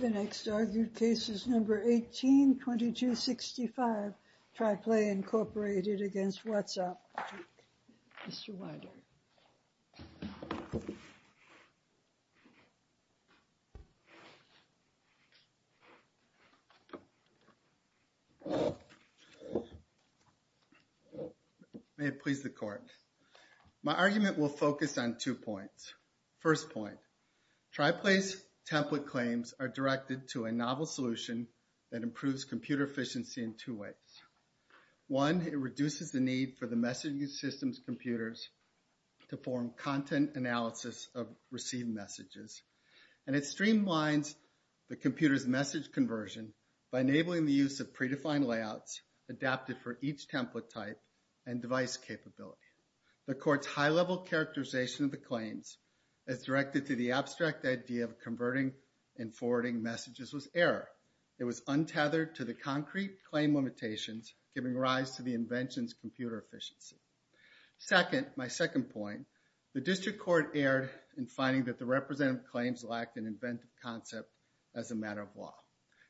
The next argued case is No. 18-2265, TriPlay, Inc. v. WhatsApp, Inc. Mr. Weider. May it please the Court. My argument will focus on two points. First point, TriPlay's template claims are directed to a novel solution that improves computer efficiency in two ways. One, it reduces the need for the messaging system's computers to form content analysis of received messages, and it streamlines the computer's message conversion by enabling the use of predefined layouts adapted for each template type and device capability. The Court's high-level characterization of the claims as directed to the abstract idea of converting and forwarding messages was error. It was untethered to the concrete claim limitations, giving rise to the invention's computer efficiency. Second, my second point, the District Court erred in finding that the representative claims lacked an inventive concept as a matter of law.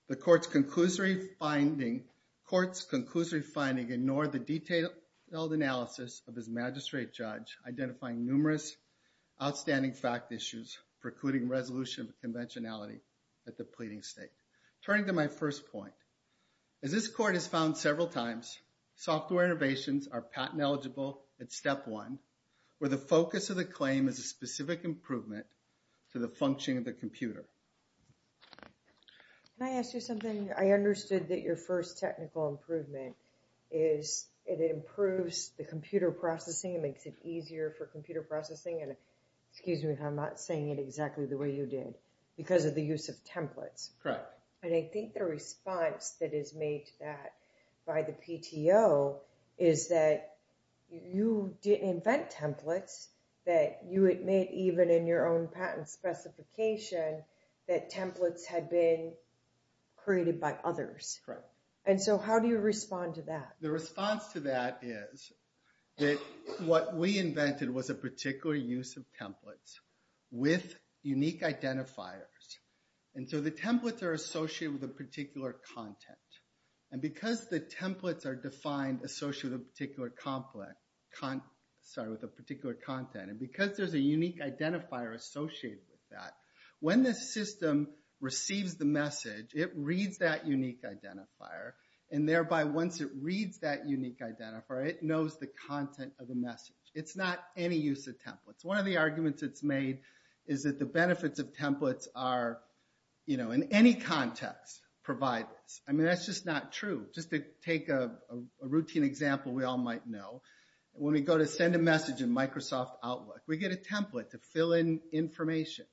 The Court's conclusory finding ignored the detailed analysis of his magistrate judge, identifying numerous outstanding fact issues precluding resolution of conventionality at the pleading state. Turning to my first point, as this Court has found several times, software innovations are patent-eligible at step one, where the focus of the claim is a specific improvement to the function of the computer. Can I ask you something? I understood that your first technical improvement is it improves the computer processing, it makes it easier for computer processing, and excuse me if I'm not saying it exactly the way you did, because of the use of templates. Correct. And I think the response that is made to that by the PTO is that you didn't invent templates that you had made even in your own patent specification that templates had been created by others. Correct. And so how do you respond to that? The response to that is that what we invented was a particular use of templates with unique identifiers, and so the templates are associated with a particular content. And because the templates are defined associated with a particular content, and because there's a unique identifier associated with that, when the system receives the message, it reads that unique identifier, and thereby once it reads that unique identifier, it knows the content of the message. It's not any use of templates. One of the arguments that's made is that the benefits of templates are, you know, in any context, provided. I mean, that's just not true. Just to take a routine example we all might know, when we go to send a message in Microsoft Outlook, we get a template to fill in information.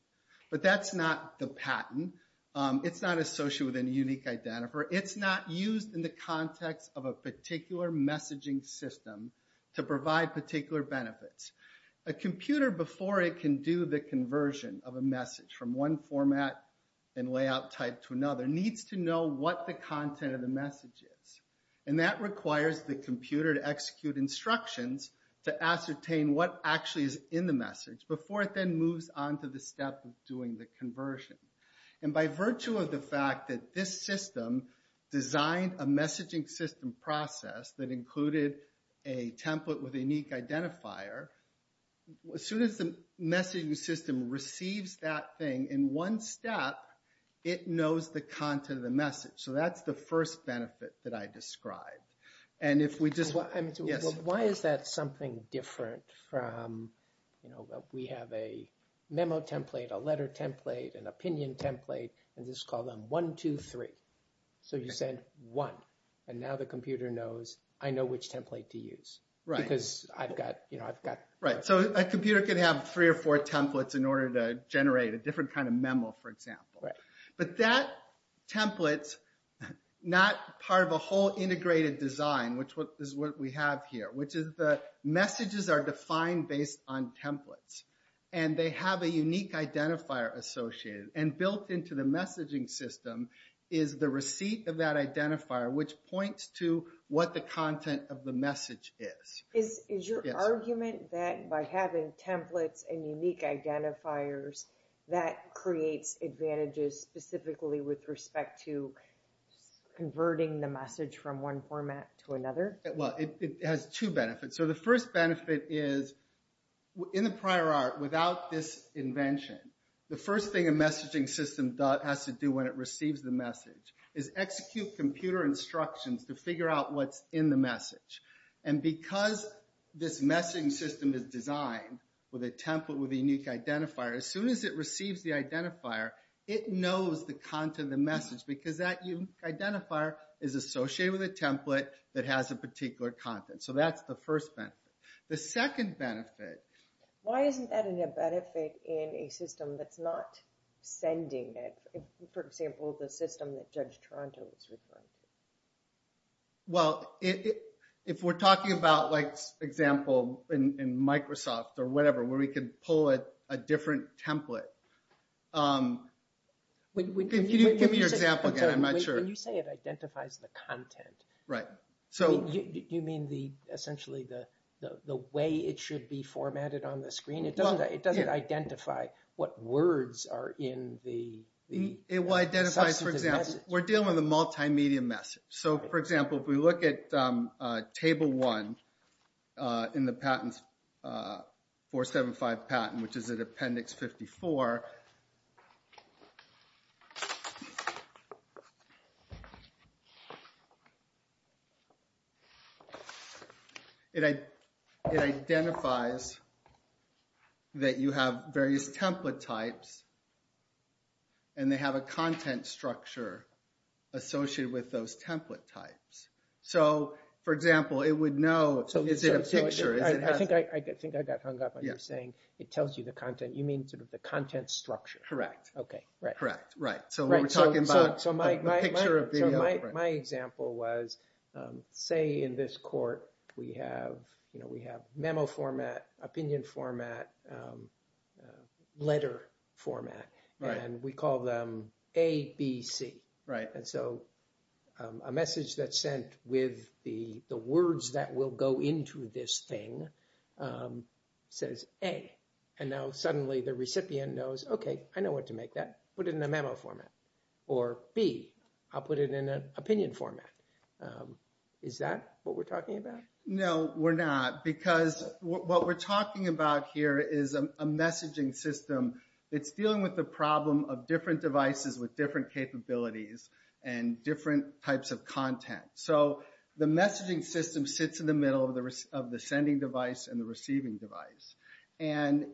But that's not the patent. It's not associated with any unique identifier. It's not used in the context of a particular messaging system to provide particular benefits. A computer before it can do the conversion of a message from one format and layout type to another needs to know what the content of the message is. And that requires the computer to execute instructions to ascertain what actually is in the message before it then moves on to the step of doing the conversion. And by virtue of the fact that this system designed a messaging system process that included a template with a unique identifier, as soon as the messaging system receives that thing in one step, it knows the content of the message. So that's the first benefit that I described. And if we just... Yes? Why is that something different from, you know, we have a memo template, a letter template, an opinion template, and this is called a one, two, three. So you send one. And now the computer knows, I know which template to use. Right. Because I've got, you know, I've got... Right. So a computer can have three or four templates in order to generate a different kind of memo, for example. Right. But that template's not part of a whole integrated design, which is what we have here, which is the messages are defined based on templates. And they have a unique identifier associated. And built into the messaging system is the receipt of that identifier, which points to what the content of the message is. Is your argument that by having templates and unique identifiers, that creates advantages specifically with respect to converting the message from one format to another? Well, it has two benefits. So the first benefit is, in the prior art, without this invention, the first thing a messaging system has to do when it receives the message is execute computer instructions to figure out what's in the message. And because this messaging system is designed with a template with a unique identifier, as soon as it receives the identifier, it knows the content of the message because that unique identifier is associated with a template that has a particular content. So that's the first benefit. The second benefit... Why isn't that a benefit in a system that's not sending it? For example, the system that Judge Toronto is referring to. Well, if we're talking about, like, example in Microsoft or whatever, where we can pull it a different template, can you give me your example again, I'm not sure. When you say it identifies the content, do you mean essentially the way it should be formatted on the screen? It doesn't identify what words are in the substance of the message. It will identify, for example, we're dealing with a multimedia message. So for example, if we look at Table 1 in the 475 patent, which is in Appendix 54, it identifies that you have various template types and they have a content structure associated with those template types. So for example, it would know, is it a picture? I think I got hung up on you saying it tells you the content. You mean sort of the content structure. Correct. Okay. Right. Correct. Right. So when we're talking about a picture of the... So my example was, say in this court, we have memo format, opinion format, letter format, and we call them A, B, C. And so a message that's sent with the words that will go into this thing says, A, and now suddenly the recipient knows, okay, I know what to make that, put it in a memo format. Or B, I'll put it in an opinion format. Is that what we're talking about? No, we're not, because what we're talking about here is a messaging system. It's dealing with the problem of different devices with different capabilities and different types of content. So the messaging system sits in the middle of the sending device and the receiving device. And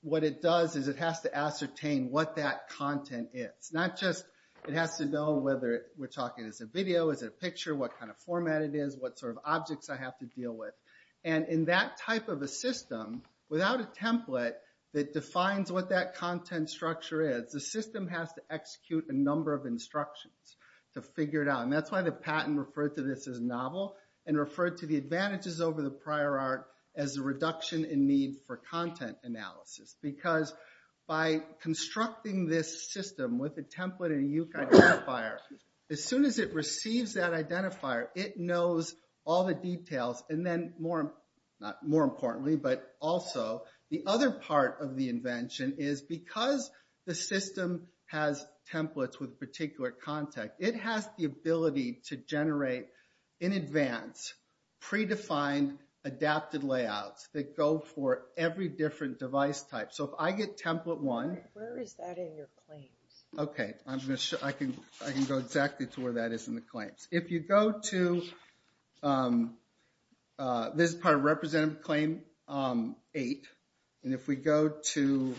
what it does is it has to ascertain what that content is. Not just, it has to know whether we're talking as a video, is it a picture, what kind of format it is, what sort of objects I have to deal with. And in that type of a system, without a template that defines what that content structure is, the system has to execute a number of instructions to figure it out. And that's why the patent referred to this as novel and referred to the advantages over the prior art as a reduction in need for content analysis. Because by constructing this system with a template and a UCAR identifier, as soon as it receives that identifier, it knows all the details and then more importantly, but also, the other part of the invention is because the system has templates with particular content, it has the ability to generate, in advance, predefined, adapted layouts that go for every different device type. So if I get template one, I can go exactly to where that is in the claims. If you go to, this is part of representative claim eight, and if we go to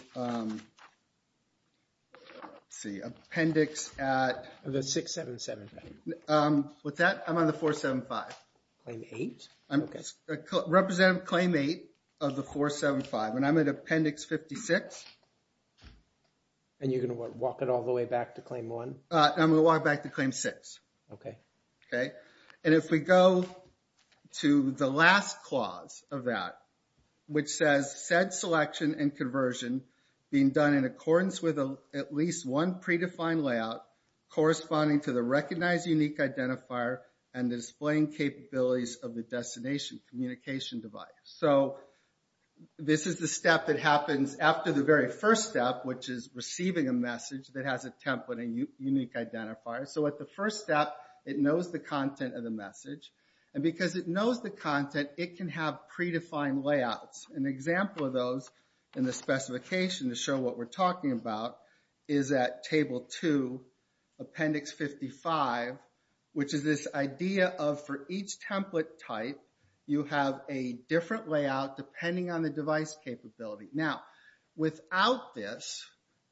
appendix at the 677. With that, I'm on the 475. Claim eight? Okay. Representative claim eight of the 475, and I'm at appendix 56. And you're going to walk it all the way back to claim one? I'm going to walk it back to claim six. Okay. Okay. And if we go to the last clause of that, which says, said selection and conversion being done in accordance with at least one predefined layout, corresponding to the recognized unique identifier, and displaying capabilities of the destination communication device. So, this is the step that happens after the very first step, which is receiving a message that has a template and unique identifier. So, at the first step, it knows the content of the message. And because it knows the content, it can have predefined layouts. An example of those in the specification to show what we're talking about is at table two, appendix 55, which is this idea of for each template type, you have a different layout depending on the device capability. Now, without this,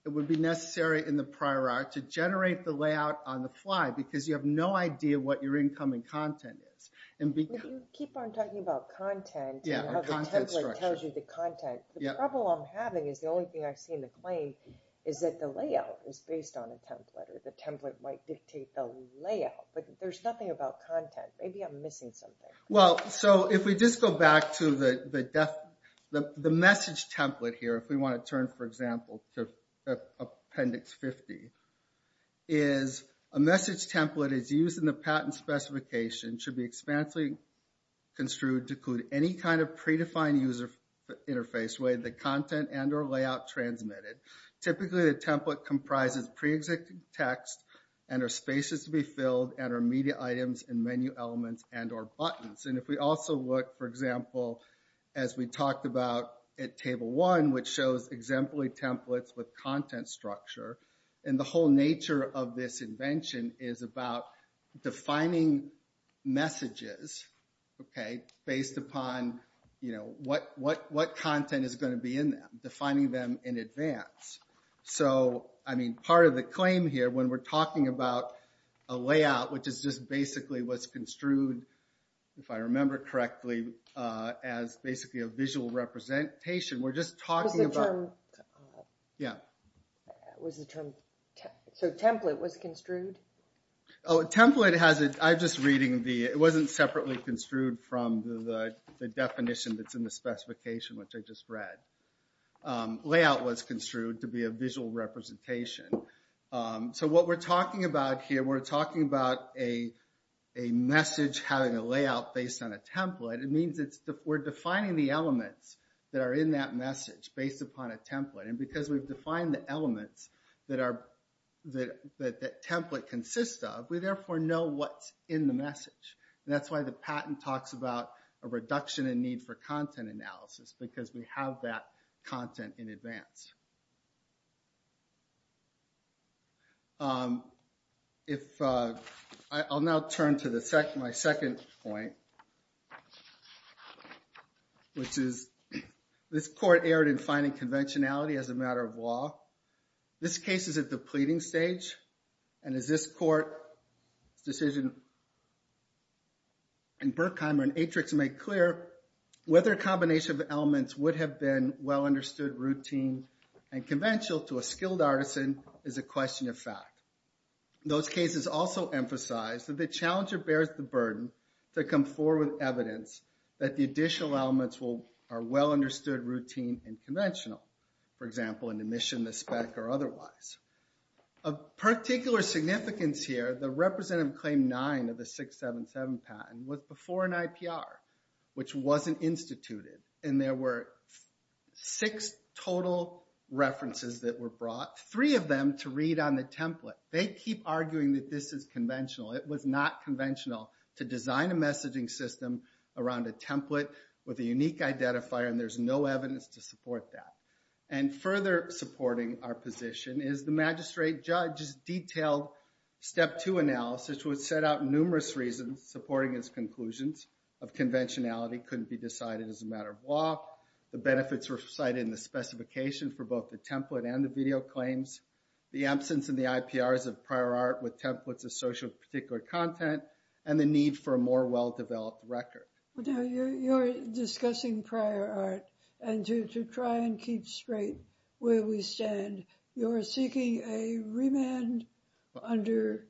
it would be necessary in the prior art to generate the layout on the fly, because you have no idea what your incoming content is. If you keep on talking about content and how the template tells you the content, the problem I'm having is the only thing I see in the claim is that the layout is based on a template or the template might dictate the layout. But there's nothing about content. Maybe I'm missing something. Well, so if we just go back to the message template here, if we want to turn, for example, to appendix 50, is a message template is used in the patent specification should be expansively construed to include any kind of predefined user interface with the content and or layout transmitted. Typically, a template comprises pre-executed text and or spaces to be filled and or media items and menu elements and or buttons. And if we also look, for example, as we talked about at table one, which shows exemplary templates with content structure. And the whole nature of this invention is about defining messages based upon what content is going to be in them, defining them in advance. So, I mean, part of the claim here when we're talking about a layout, which is just basically what's construed, if I remember correctly, as basically a visual representation, we're just talking about... Was the term... Yeah. Was the term, so template was construed? Oh, template has it. I'm just reading the, it wasn't separately construed from the definition that's in the specification, which I just read. Layout was construed to be a visual representation. So what we're talking about here, we're talking about a message having a layout based on a template. It means we're defining the elements that are in that message based upon a template. And because we've defined the elements that that template consists of, we therefore know what's in the message. And that's why the patent talks about a reduction in need for content analysis, because we have that content in advance. I'll now turn to my second point, which is this court erred in finding conventionality as a matter of law. This case is at the pleading stage, and as this court's decision in Berkheimer and Atrix make clear, whether a combination of elements would have been well understood, routine, and conventional to a skilled artisan is a question of fact. Those cases also emphasize that the challenger bears the burden to come forward with evidence that the additional elements are well understood, routine, and conventional. For example, an emission, a spec, or otherwise. Of particular significance here, the representative claim nine of the 677 patent was before an that were brought, three of them to read on the template. They keep arguing that this is conventional. It was not conventional to design a messaging system around a template with a unique identifier, and there's no evidence to support that. And further supporting our position is the magistrate judge's detailed step two analysis which set out numerous reasons supporting his conclusions of conventionality couldn't be decided as a matter of law. The benefits were cited in the specification for both the template and the video claims, the absence in the IPRs of prior art with templates of social particular content, and the need for a more well-developed record. Now, you're discussing prior art, and to try and keep straight where we stand, you're seeking a remand under,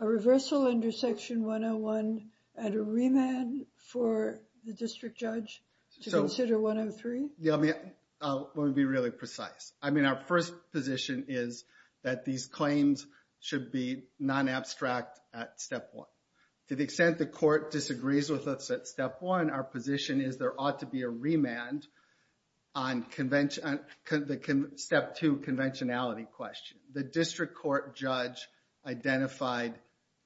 a reversal under Section 101 and a remand for the district judge to consider 103? Yeah, let me be really precise. I mean, our first position is that these claims should be non-abstract at step one. To the extent the court disagrees with us at step one, our position is there ought to be a remand on the step two conventionality question. The district court judge identified,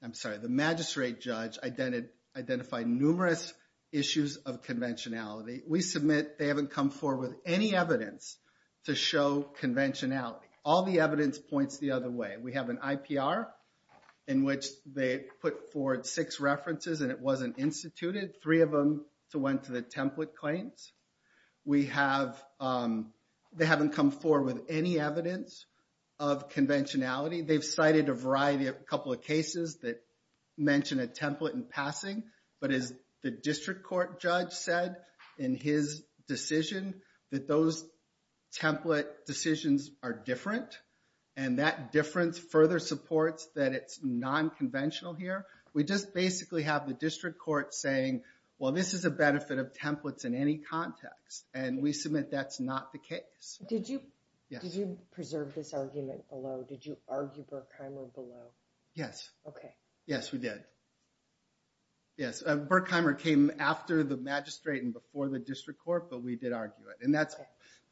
I'm sorry, the magistrate judge identified numerous issues of conventionality. We submit they haven't come forward with any evidence to show conventionality. All the evidence points the other way. We have an IPR in which they put forward six references and it wasn't instituted. Three of them went to the template claims. We have, they haven't come forward with any evidence of conventionality. They've cited a variety, a couple of cases that mention a template in passing, but as the district court judge said in his decision, that those template decisions are different, and that difference further supports that it's non-conventional here. We just basically have the district court saying, well, this is a benefit of templates in any context, and we submit that's not the case. Did you preserve this argument below? Did you argue Berkheimer below? Yes. Okay. Yes, we did. Yes, Berkheimer came after the magistrate and before the district court, but we did argue it. And that's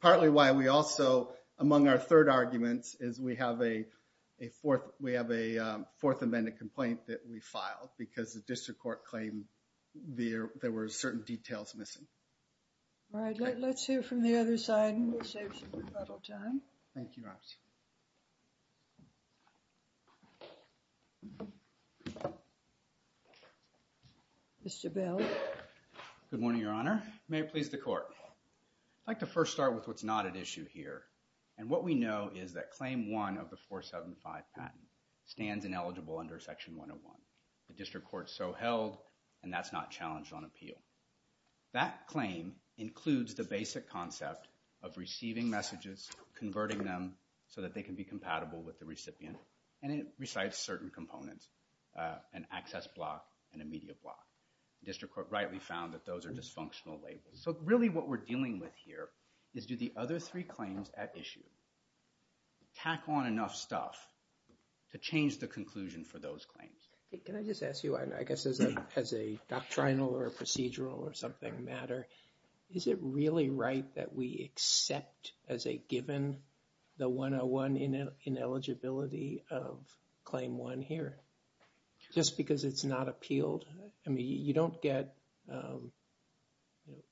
partly why we also, among our third arguments, is we have a fourth amendment complaint that we filed because the district court claimed there were certain details missing. All right, let's hear from the other side and we'll save some time. Thank you, Roxy. Mr. Bell. Good morning, Your Honor. May it please the court. I'd like to first start with what's not at issue here, and what we know is that Claim 1 of the 475 patent stands ineligible under Section 101. The district court so held, and that's not challenged on appeal. That claim includes the basic concept of receiving messages, converting them so that they can be compatible with the recipient, and it recites certain components, an access block and a media block. The district court rightly found that those are dysfunctional labels. So really what we're dealing with here is do the other three claims at issue tack on enough stuff to change the conclusion for those claims? Can I just ask you, I guess as a doctrinal or procedural or something matter, is it really right that we accept as a given the 101 ineligibility of Claim 1 here? Just because it's not appealed? I mean, you don't get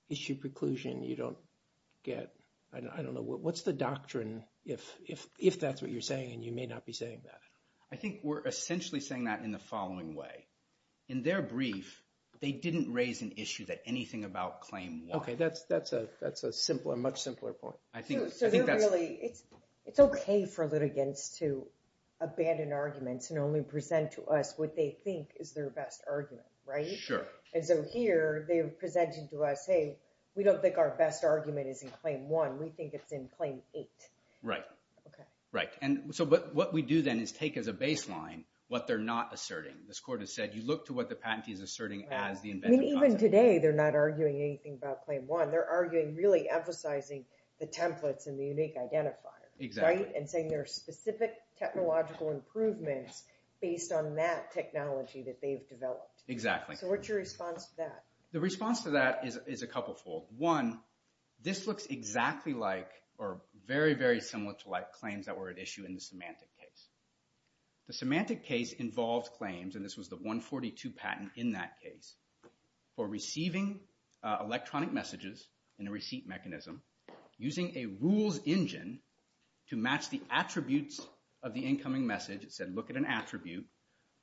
issue preclusion. You don't get, I don't know, what's the doctrine if that's what you're saying and you may not be saying that? I think we're essentially saying that in the following way. In their brief, they didn't raise an issue that anything about Claim 1. Okay, that's a much simpler point. So they're really, it's okay for litigants to abandon arguments and only present to us what they think is their best argument, right? Sure. And so here they're presenting to us, hey, we don't think our best argument is in Claim 1, we think it's in Claim 8. Right. Okay. Right. And so what we do then is take as a baseline what they're not asserting. This court has said you look to what the patentee is asserting as the inventive concept. I mean, even today they're not arguing anything about Claim 1. They're arguing really emphasizing the templates and the unique identifiers, right? Exactly. And saying there are specific technological improvements based on that technology that they've developed. Exactly. So what's your response to that? The response to that is a couple fold. One, this looks exactly like or very, very similar to like claims that were at issue in the semantic case. The semantic case involved claims, and this was the 142 patent in that case, for receiving electronic messages in a receipt mechanism using a rules engine to match the attributes of the incoming message. It said look at an attribute,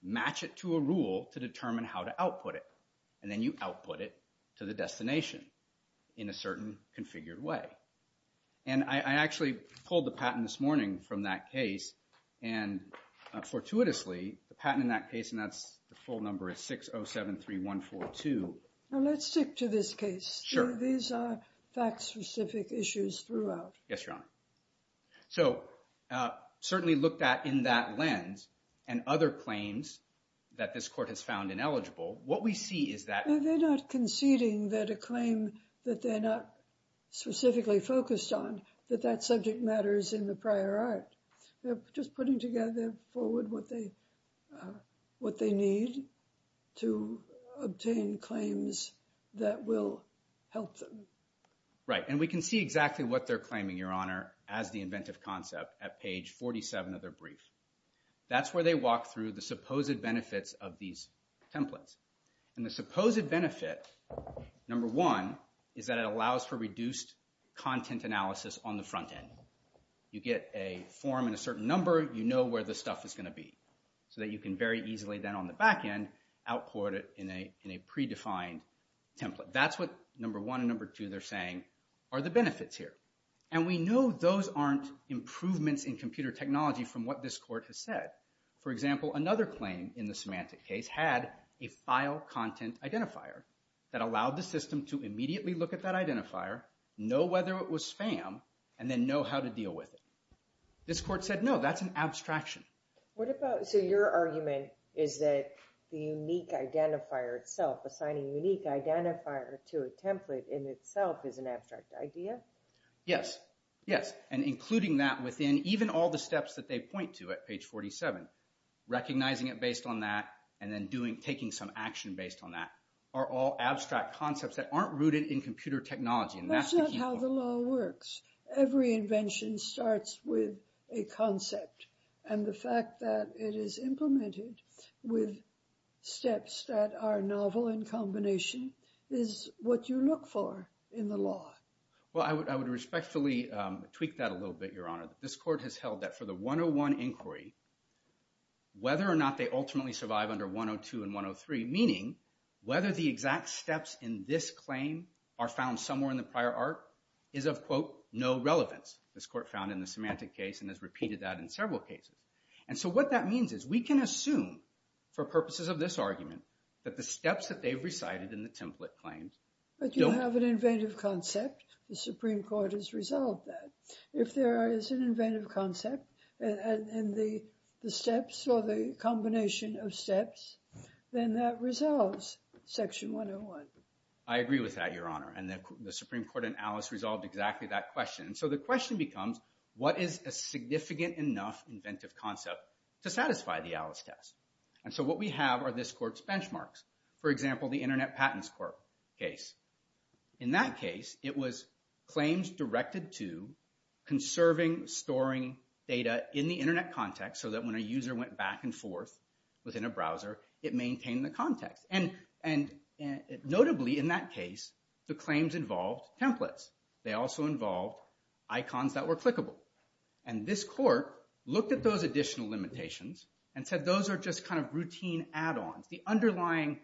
match it to a rule to determine how to output it. And then you output it to the destination in a certain configured way. And I actually pulled the patent this morning from that case, and fortuitously the patent in that case, and that's the full number is 6073142. Now let's stick to this case. Sure. These are fact-specific issues throughout. Yes, Your Honor. So certainly looked at in that lens and other claims that this court has found ineligible, what we see is that- They're not conceding that a claim that they're not specifically focused on, that that subject matters in the prior art. They're just putting together forward what they need to obtain claims that will help them. Right, and we can see exactly what they're claiming, Your Honor, as the inventive concept at page 47 of their brief. That's where they walk through the supposed benefits of these templates. And the supposed benefit, number one, is that it allows for reduced content analysis on the front end. You get a form and a certain number, you know where the stuff is going to be, so that you can very easily then on the back end output it in a predefined template. That's what number one and number two they're saying are the benefits here. And we know those aren't improvements in computer technology from what this court has said. For example, another claim in the semantic case had a file content identifier that allowed the system to immediately look at that identifier, know whether it was spam, and then know how to deal with it. This court said no, that's an abstraction. So your argument is that the unique identifier itself, assigning a unique identifier to a template in itself is an abstract idea? Yes, yes, and including that within even all the steps that they point to at page 47. Recognizing it based on that and then taking some action based on that are all abstract concepts that aren't rooted in computer technology. And that's the key point. That's not how the law works. Every invention starts with a concept. And the fact that it is implemented with steps that are novel in combination is what you look for in the law. Well, I would respectfully tweak that a little bit, Your Honor. This court has held that for the 101 inquiry, whether or not they ultimately survive under 102 and 103, meaning whether the exact steps in this claim are found somewhere in the prior art, is of, quote, no relevance. This court found in the semantic case and has repeated that in several cases. And so what that means is we can assume, for purposes of this argument, that the steps that they've recited in the template claims don't… But you have an inventive concept. The Supreme Court has resolved that. If there is an inventive concept in the steps or the combination of steps, then that resolves Section 101. I agree with that, Your Honor. And the Supreme Court and Alice resolved exactly that question. And so the question becomes, what is a significant enough inventive concept to satisfy the Alice test? And so what we have are this court's benchmarks. For example, the Internet Patents Court case. In that case, it was claims directed to conserving, storing data in the Internet context so that when a user went back and forth within a browser, it maintained the context. And notably in that case, the claims involved templates. They also involved icons that were clickable. And this court looked at those additional limitations and said those are just kind of routine add-ons. The underlying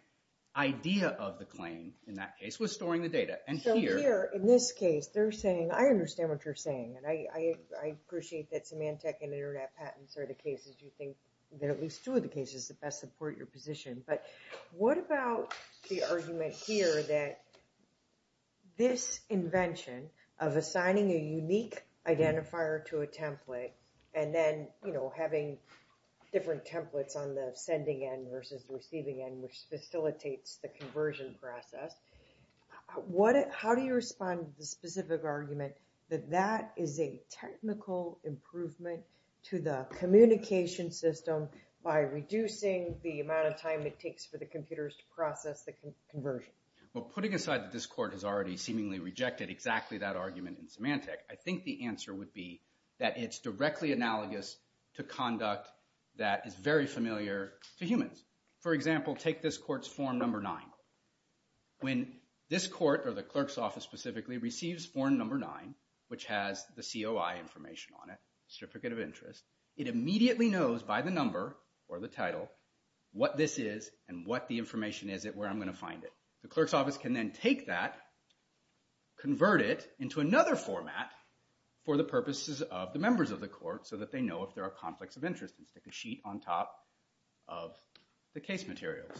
idea of the claim in that case was storing the data. And here… So here, in this case, they're saying, I understand what you're saying. And I appreciate that semantic and Internet patents are the cases you think that at least two of the cases that best support your position. But what about the argument here that this invention of assigning a unique identifier to a template and then, you know, having different templates on the sending end versus the receiving end, which facilitates the conversion process, how do you respond to the specific argument that that is a technical improvement to the communication system by reducing the amount of time it takes for the computers to process the conversion? Well, putting aside that this court has already seemingly rejected exactly that argument in semantic, I think the answer would be that it's directly analogous to conduct that is very familiar to humans. For example, take this court's form number 9. When this court, or the clerk's office specifically, receives form number 9, which has the COI information on it, certificate of interest, it immediately knows by the number or the title what this is and what the information is at where I'm going to find it. The clerk's office can then take that, convert it into another format for the purposes of the members of the court so that they know if there are conflicts of interest and stick a sheet on top of the case materials.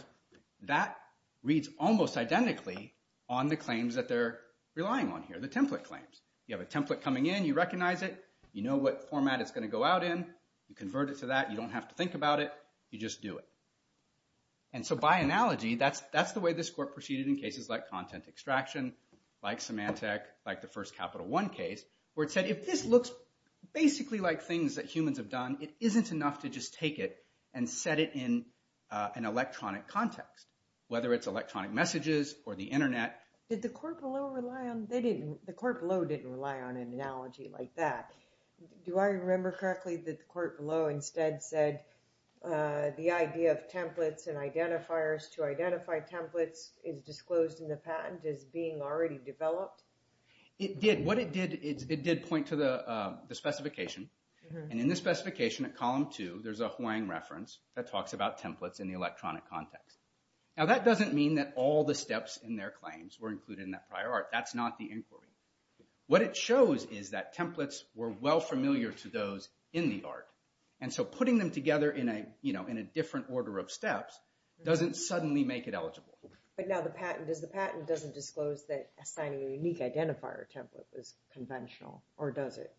That reads almost identically on the claims that they're relying on here, the template claims. You have a template coming in. You recognize it. You know what format it's going to go out in. You convert it to that. You don't have to think about it. You just do it. And so by analogy, that's the way this court proceeded in cases like content extraction, like semantic, like the first Capital One case, where it said if this looks basically like things that humans have done, it isn't enough to just take it and set it in an electronic context, whether it's electronic messages or the internet. The court below didn't rely on an analogy like that. Do I remember correctly that the court below instead said the idea of templates and identifiers to identify templates is disclosed in the patent as being already developed? It did. What it did, it did point to the specification, and in the specification at column two, there's a Hawaiian reference that talks about templates in the electronic context. Now that doesn't mean that all the steps in their claims were included in that prior art. That's not the inquiry. What it shows is that templates were well familiar to those in the art, and so putting them together in a different order of steps doesn't suddenly make it eligible. But now the patent is the patent doesn't disclose that assigning a unique identifier template is conventional, or does it?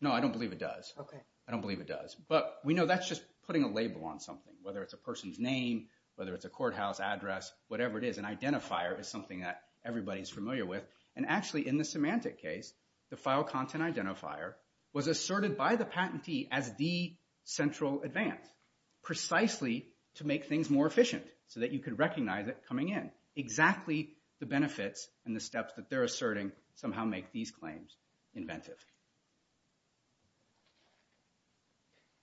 No, I don't believe it does. Okay. I don't believe it does. But we know that's just putting a label on something, whether it's a person's name, whether it's a courthouse address, whatever it is. An identifier is something that everybody is familiar with, and actually in the Symantec case, the file content identifier was asserted by the patentee as the central advance precisely to make things more efficient so that you could recognize it coming in. Exactly the benefits and the steps that they're asserting somehow make these claims inventive.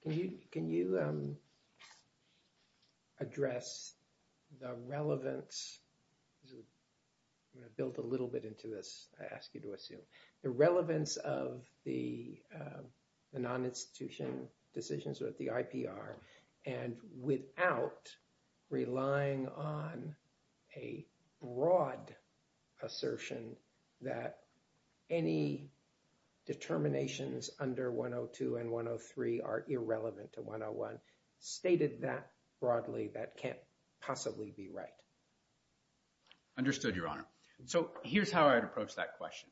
Can you address the relevance? I'm going to build a little bit into this, I ask you to assume. The relevance of the non-institution decisions with the IPR and without relying on a broad assertion that any determinations under 102 and 103 are irrelevant to 101 stated that broadly that can't possibly be right. Understood, Your Honor. So here's how I'd approach that question.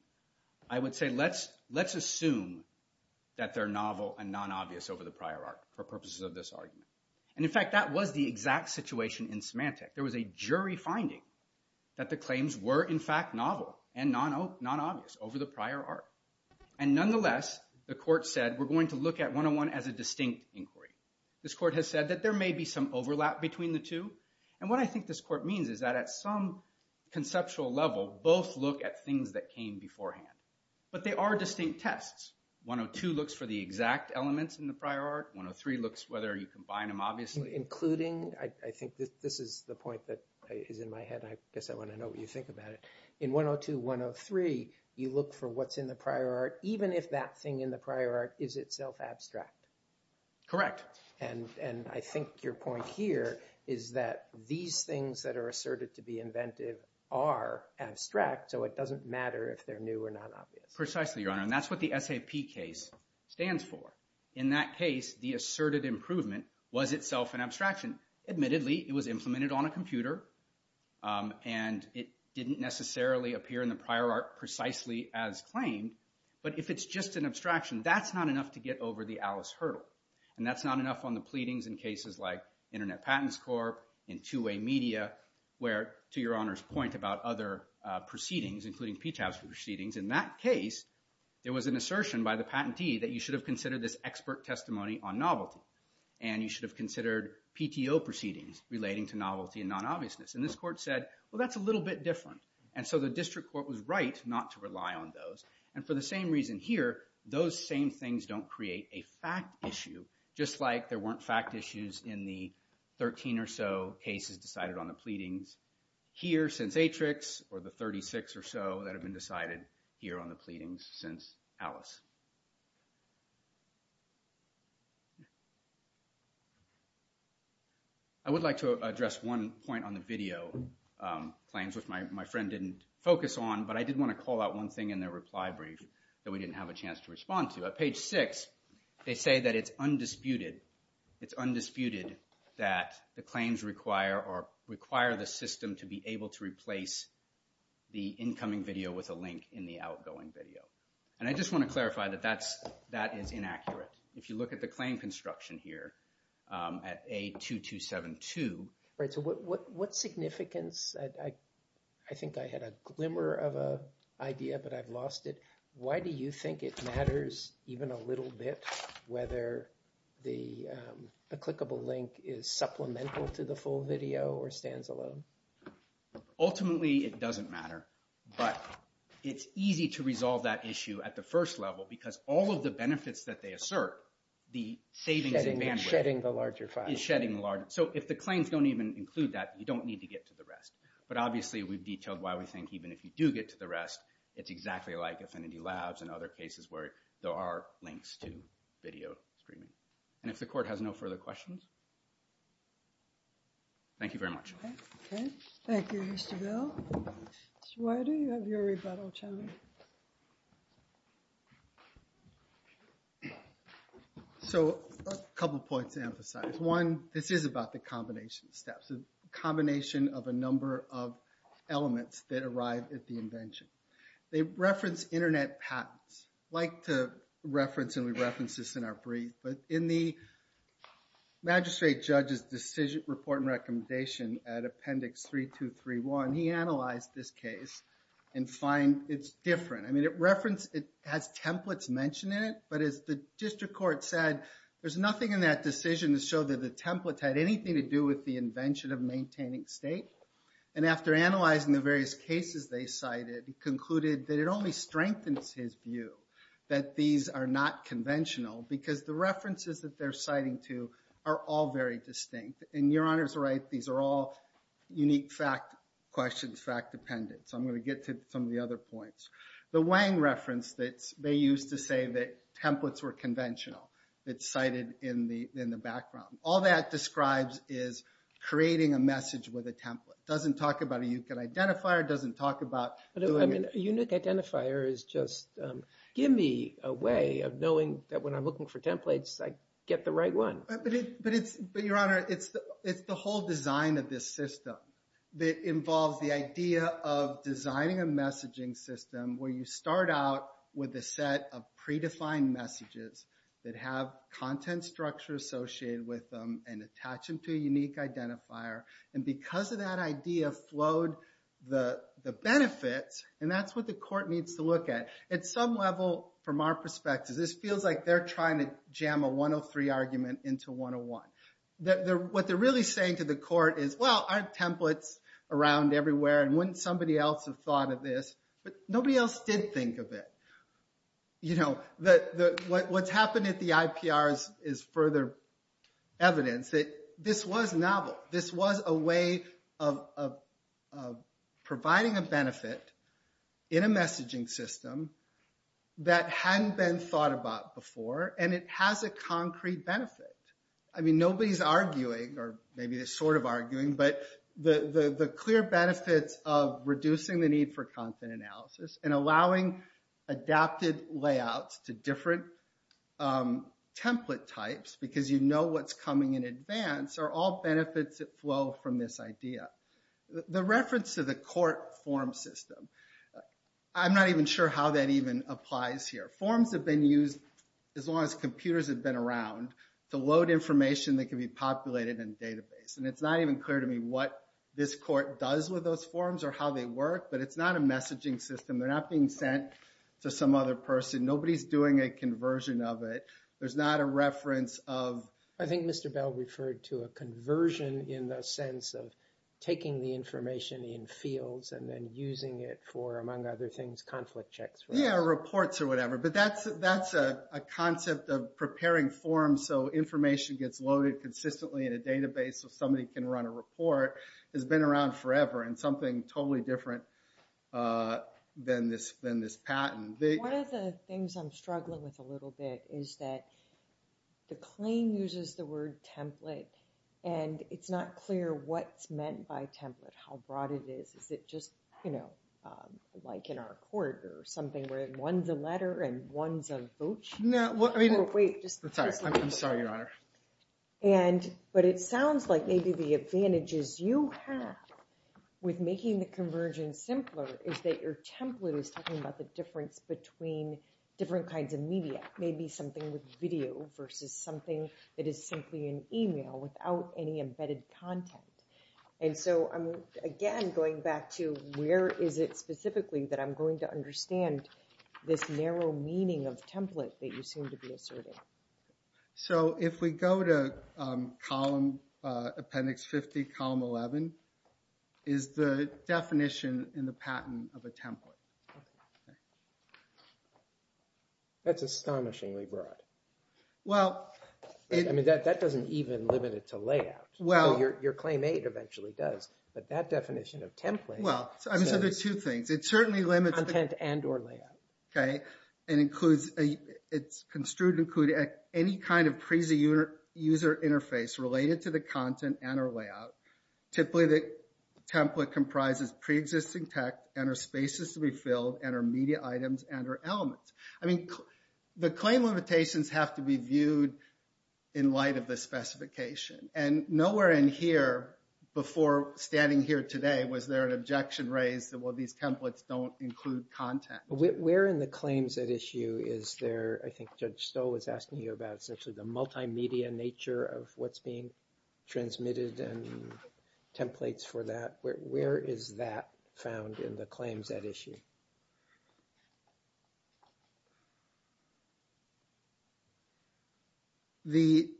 I would say let's assume that they're novel and non-obvious over the prior art for purposes of this argument. And in fact, that was the exact situation in Symantec. There was a jury finding that the claims were in fact novel and non-obvious over the prior art. And nonetheless, the court said we're going to look at 101 as a distinct inquiry. This court has said that there may be some overlap between the two. And what I think this court means is that at some conceptual level, both look at things that came beforehand. But they are distinct tests. 102 looks for the exact elements in the prior art. 103 looks whether you combine them obviously. Including, I think this is the point that is in my head. I guess I want to know what you think about it. In 102-103, you look for what's in the prior art, even if that thing in the prior art is itself abstract. Correct. And I think your point here is that these things that are asserted to be inventive are abstract. So it doesn't matter if they're new or non-obvious. Precisely, Your Honor. And that's what the SAP case stands for. In that case, the asserted improvement was itself an abstraction. Admittedly, it was implemented on a computer. And it didn't necessarily appear in the prior art precisely as claimed. But if it's just an abstraction, that's not enough to get over the Alice hurdle. And that's not enough on the pleadings in cases like Internet Patents Corp., in two-way media, where, to Your Honor's point about other proceedings, including PTAS proceedings, in that case, there was an assertion by the patentee that you should have considered this expert testimony on novelty. And you should have considered PTO proceedings relating to novelty and non-obviousness. And this court said, well, that's a little bit different. And so the district court was right not to rely on those. And for the same reason here, those same things don't create a fact issue, just like there weren't fact issues in the 13 or so cases decided on the pleadings. Here, since Atrix, or the 36 or so that have been decided here on the pleadings since Alice. I would like to address one point on the video claims, which my friend didn't focus on. But I did want to call out one thing in their reply brief that we didn't have a chance to respond to. At page 6, they say that it's undisputed, it's undisputed that the claims require the system to be able to replace the incoming video with a link in the outgoing video. And I just want to clarify that that is inaccurate. If you look at the claim construction here at A2272. So what significance, I think I had a glimmer of an idea, but I've lost it. Why do you think it matters even a little bit whether the clickable link is supplemental to the full video or stands alone? Ultimately, it doesn't matter. But it's easy to resolve that issue at the first level because all of the benefits that they assert, the savings in bandwidth. It's shedding the larger file. It's shedding the larger. So if the claims don't even include that, you don't need to get to the rest. But obviously, we've detailed why we think even if you do get to the rest, it's exactly like Affinity Labs and other cases where there are links to video streaming. And if the court has no further questions, thank you very much. OK. Thank you, Mr. Bell. Mr. Whiter, you have your rebuttal challenge. So a couple of points to emphasize. One, this is about the combination steps, a combination of a number of elements that arrive at the invention. They reference internet patents. I like to reference, and we reference this in our brief. But in the magistrate judge's decision report and recommendation at appendix 3231, he analyzed this case and find it's different. I mean, it has templates mentioned in it. But as the district court said, there's nothing in that decision to show that the templates had anything to do with the invention of maintaining state. And after analyzing the various cases they cited, he concluded that it only strengthens his view that these are not conventional, because the references that they're citing to are all very distinct. And Your Honor's right. These are all unique fact questions, fact-dependent. So I'm going to get to some of the other points. The Wang reference that they used to say that templates were conventional, it's cited in the background. All that describes is creating a message with a template. It doesn't talk about a U-cut identifier. It doesn't talk about doing it. A unique identifier is just, give me a way of knowing that when I'm looking for templates, I get the right one. But Your Honor, it's the whole design of this system that involves the idea of designing a messaging system where you start out with a set of predefined messages that have content structure associated with them and attach them to a unique identifier. And because of that idea flowed the benefits, and that's what the court needs to look at. At some level, from our perspective, this feels like they're trying to jam a 103 argument into 101. What they're really saying to the court is, well, aren't templates around everywhere? And wouldn't somebody else have thought of this? But nobody else did think of it. What's happened at the IPR is further evidence that this was novel. This was a way of providing a benefit in a messaging system that hadn't been thought about before, and it has a concrete benefit. I mean, nobody's arguing, or maybe they're sort of arguing, but the clear benefits of reducing the need for content analysis and allowing adapted layouts to different template types, because you know what's coming in advance, are all benefits that flow from this idea. The reference to the court form system, I'm not even sure how that even applies here. Forms have been used, as long as computers have been around, to load information that can be populated in a database. And it's not even clear to me what this court does with those forms or how they work, but it's not a messaging system. They're not being sent to some other person. Nobody's doing a conversion of it. There's not a reference of... I think Mr. Bell referred to a conversion in the sense of taking the information in fields and then using it for, among other things, conflict checks. Yeah, reports or whatever. But that's a concept of preparing forms so information gets loaded consistently in a database so somebody can run a report. It's been around forever and something totally different than this patent. One of the things I'm struggling with a little bit is that the claim uses the word template and it's not clear what's meant by template, how broad it is. Is it just like in our court or something where one's a letter and one's a vote sheet? I'm sorry, Your Honor. But it sounds like maybe the advantages you have with making the convergence simpler is that your template is talking about the difference between different kinds of media, maybe something with video versus something that is simply an email without any embedded content. And so, again, going back to where is it specifically that I'm going to understand this narrow meaning of template that you seem to be asserting? So if we go to appendix 50, column 11, is the definition in the patent of a template. That's astonishingly broad. I mean, that doesn't even limit it to layout. Your Claim 8 eventually does, but that definition of template... Well, so there are two things. It certainly limits... Content and or layout. Okay, it includes, it's construed to include any kind of prezi user interface related to the content and or layout, typically the template comprises preexisting text and or spaces to be filled and or media items and or elements. I mean, the claim limitations have to be viewed in light of the specification. And nowhere in here, before standing here today, was there an objection raised that, well, these templates don't include content. Where in the claims at issue is there, I think Judge Stowe was asking you about, essentially the multimedia nature of what's being transmitted and templates for that. Where is that found in the claims at issue?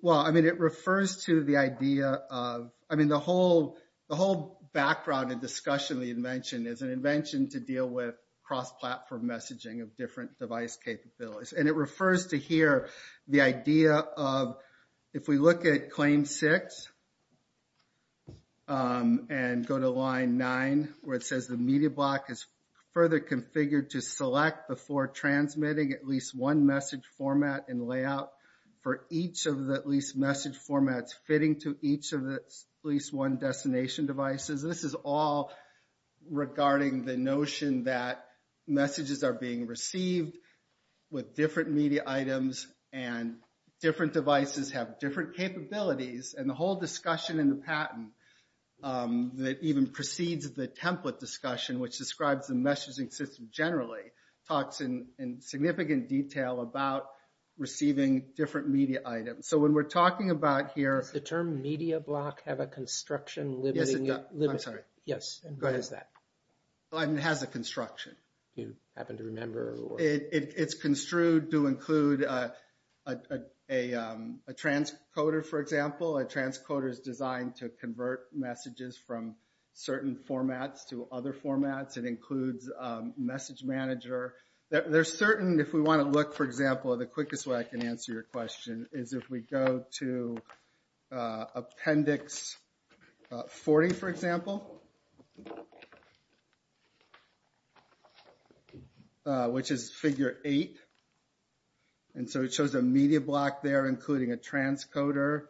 Well, I mean, it refers to the idea of... I mean, the whole background and discussion of the invention is an invention to deal with cross-platform messaging of different device capabilities. And it refers to here the idea of, if we look at claim six and go to line nine, where it says the media block is further configured to select before transmitting at least one message format and layout for each of the at least message formats fitting to each of the at least one destination devices. This is all regarding the notion that messages are being received with different media items and different devices have different capabilities. And the whole discussion in the patent that even precedes the template discussion, which describes the messaging system generally, talks in significant detail about receiving different media items. So when we're talking about here... Does the term media block have a construction limiting it? Yes, it does. I'm sorry. Yes, and what is that? It has a construction. You happen to remember? It's construed to include a transcoder, for example. A transcoder is designed to convert messages from certain formats to other formats. It includes message manager. There's certain, if we want to look, for example, the quickest way I can answer your question is if we go to appendix 40, for example, which is figure eight. And so it shows a media block there, including a transcoder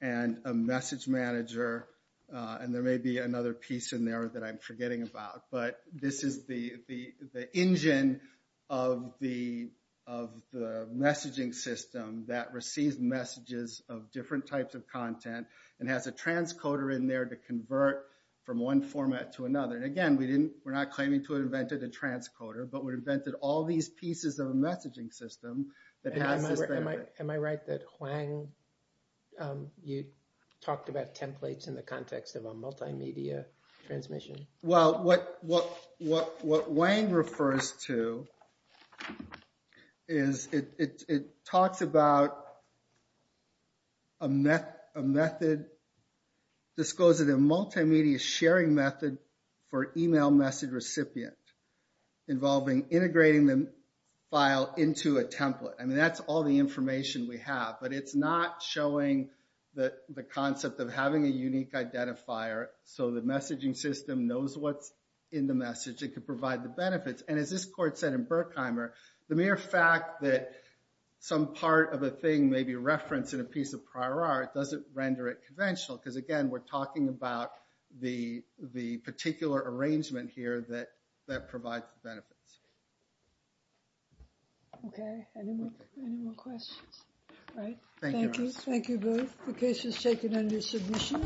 and a message manager. And there may be another piece in there that I'm forgetting about. But this is the engine of the messaging system that receives messages of different types of content and has a transcoder in there to convert from one format to another. And again, we're not claiming to have invented a transcoder, but we've invented all these pieces of a messaging system that has this benefit. Am I right that Hwang, you talked about templates in the context of a multimedia transmission? Well, what Hwang refers to is it talks about a method disclosed in a multimedia sharing method for email message recipient involving integrating the file into a template. I mean, that's all the information we have, but it's not showing the concept of having a unique identifier so the messaging system knows what's in the message. It could provide the benefits. And as this court said in Berkheimer, the mere fact that some part of a thing may be referenced in a piece of prior art doesn't render it conventional. Because again, we're talking about the particular arrangement here that provides the benefits. Okay, any more questions? Thank you. Thank you both. The case is taken under submission.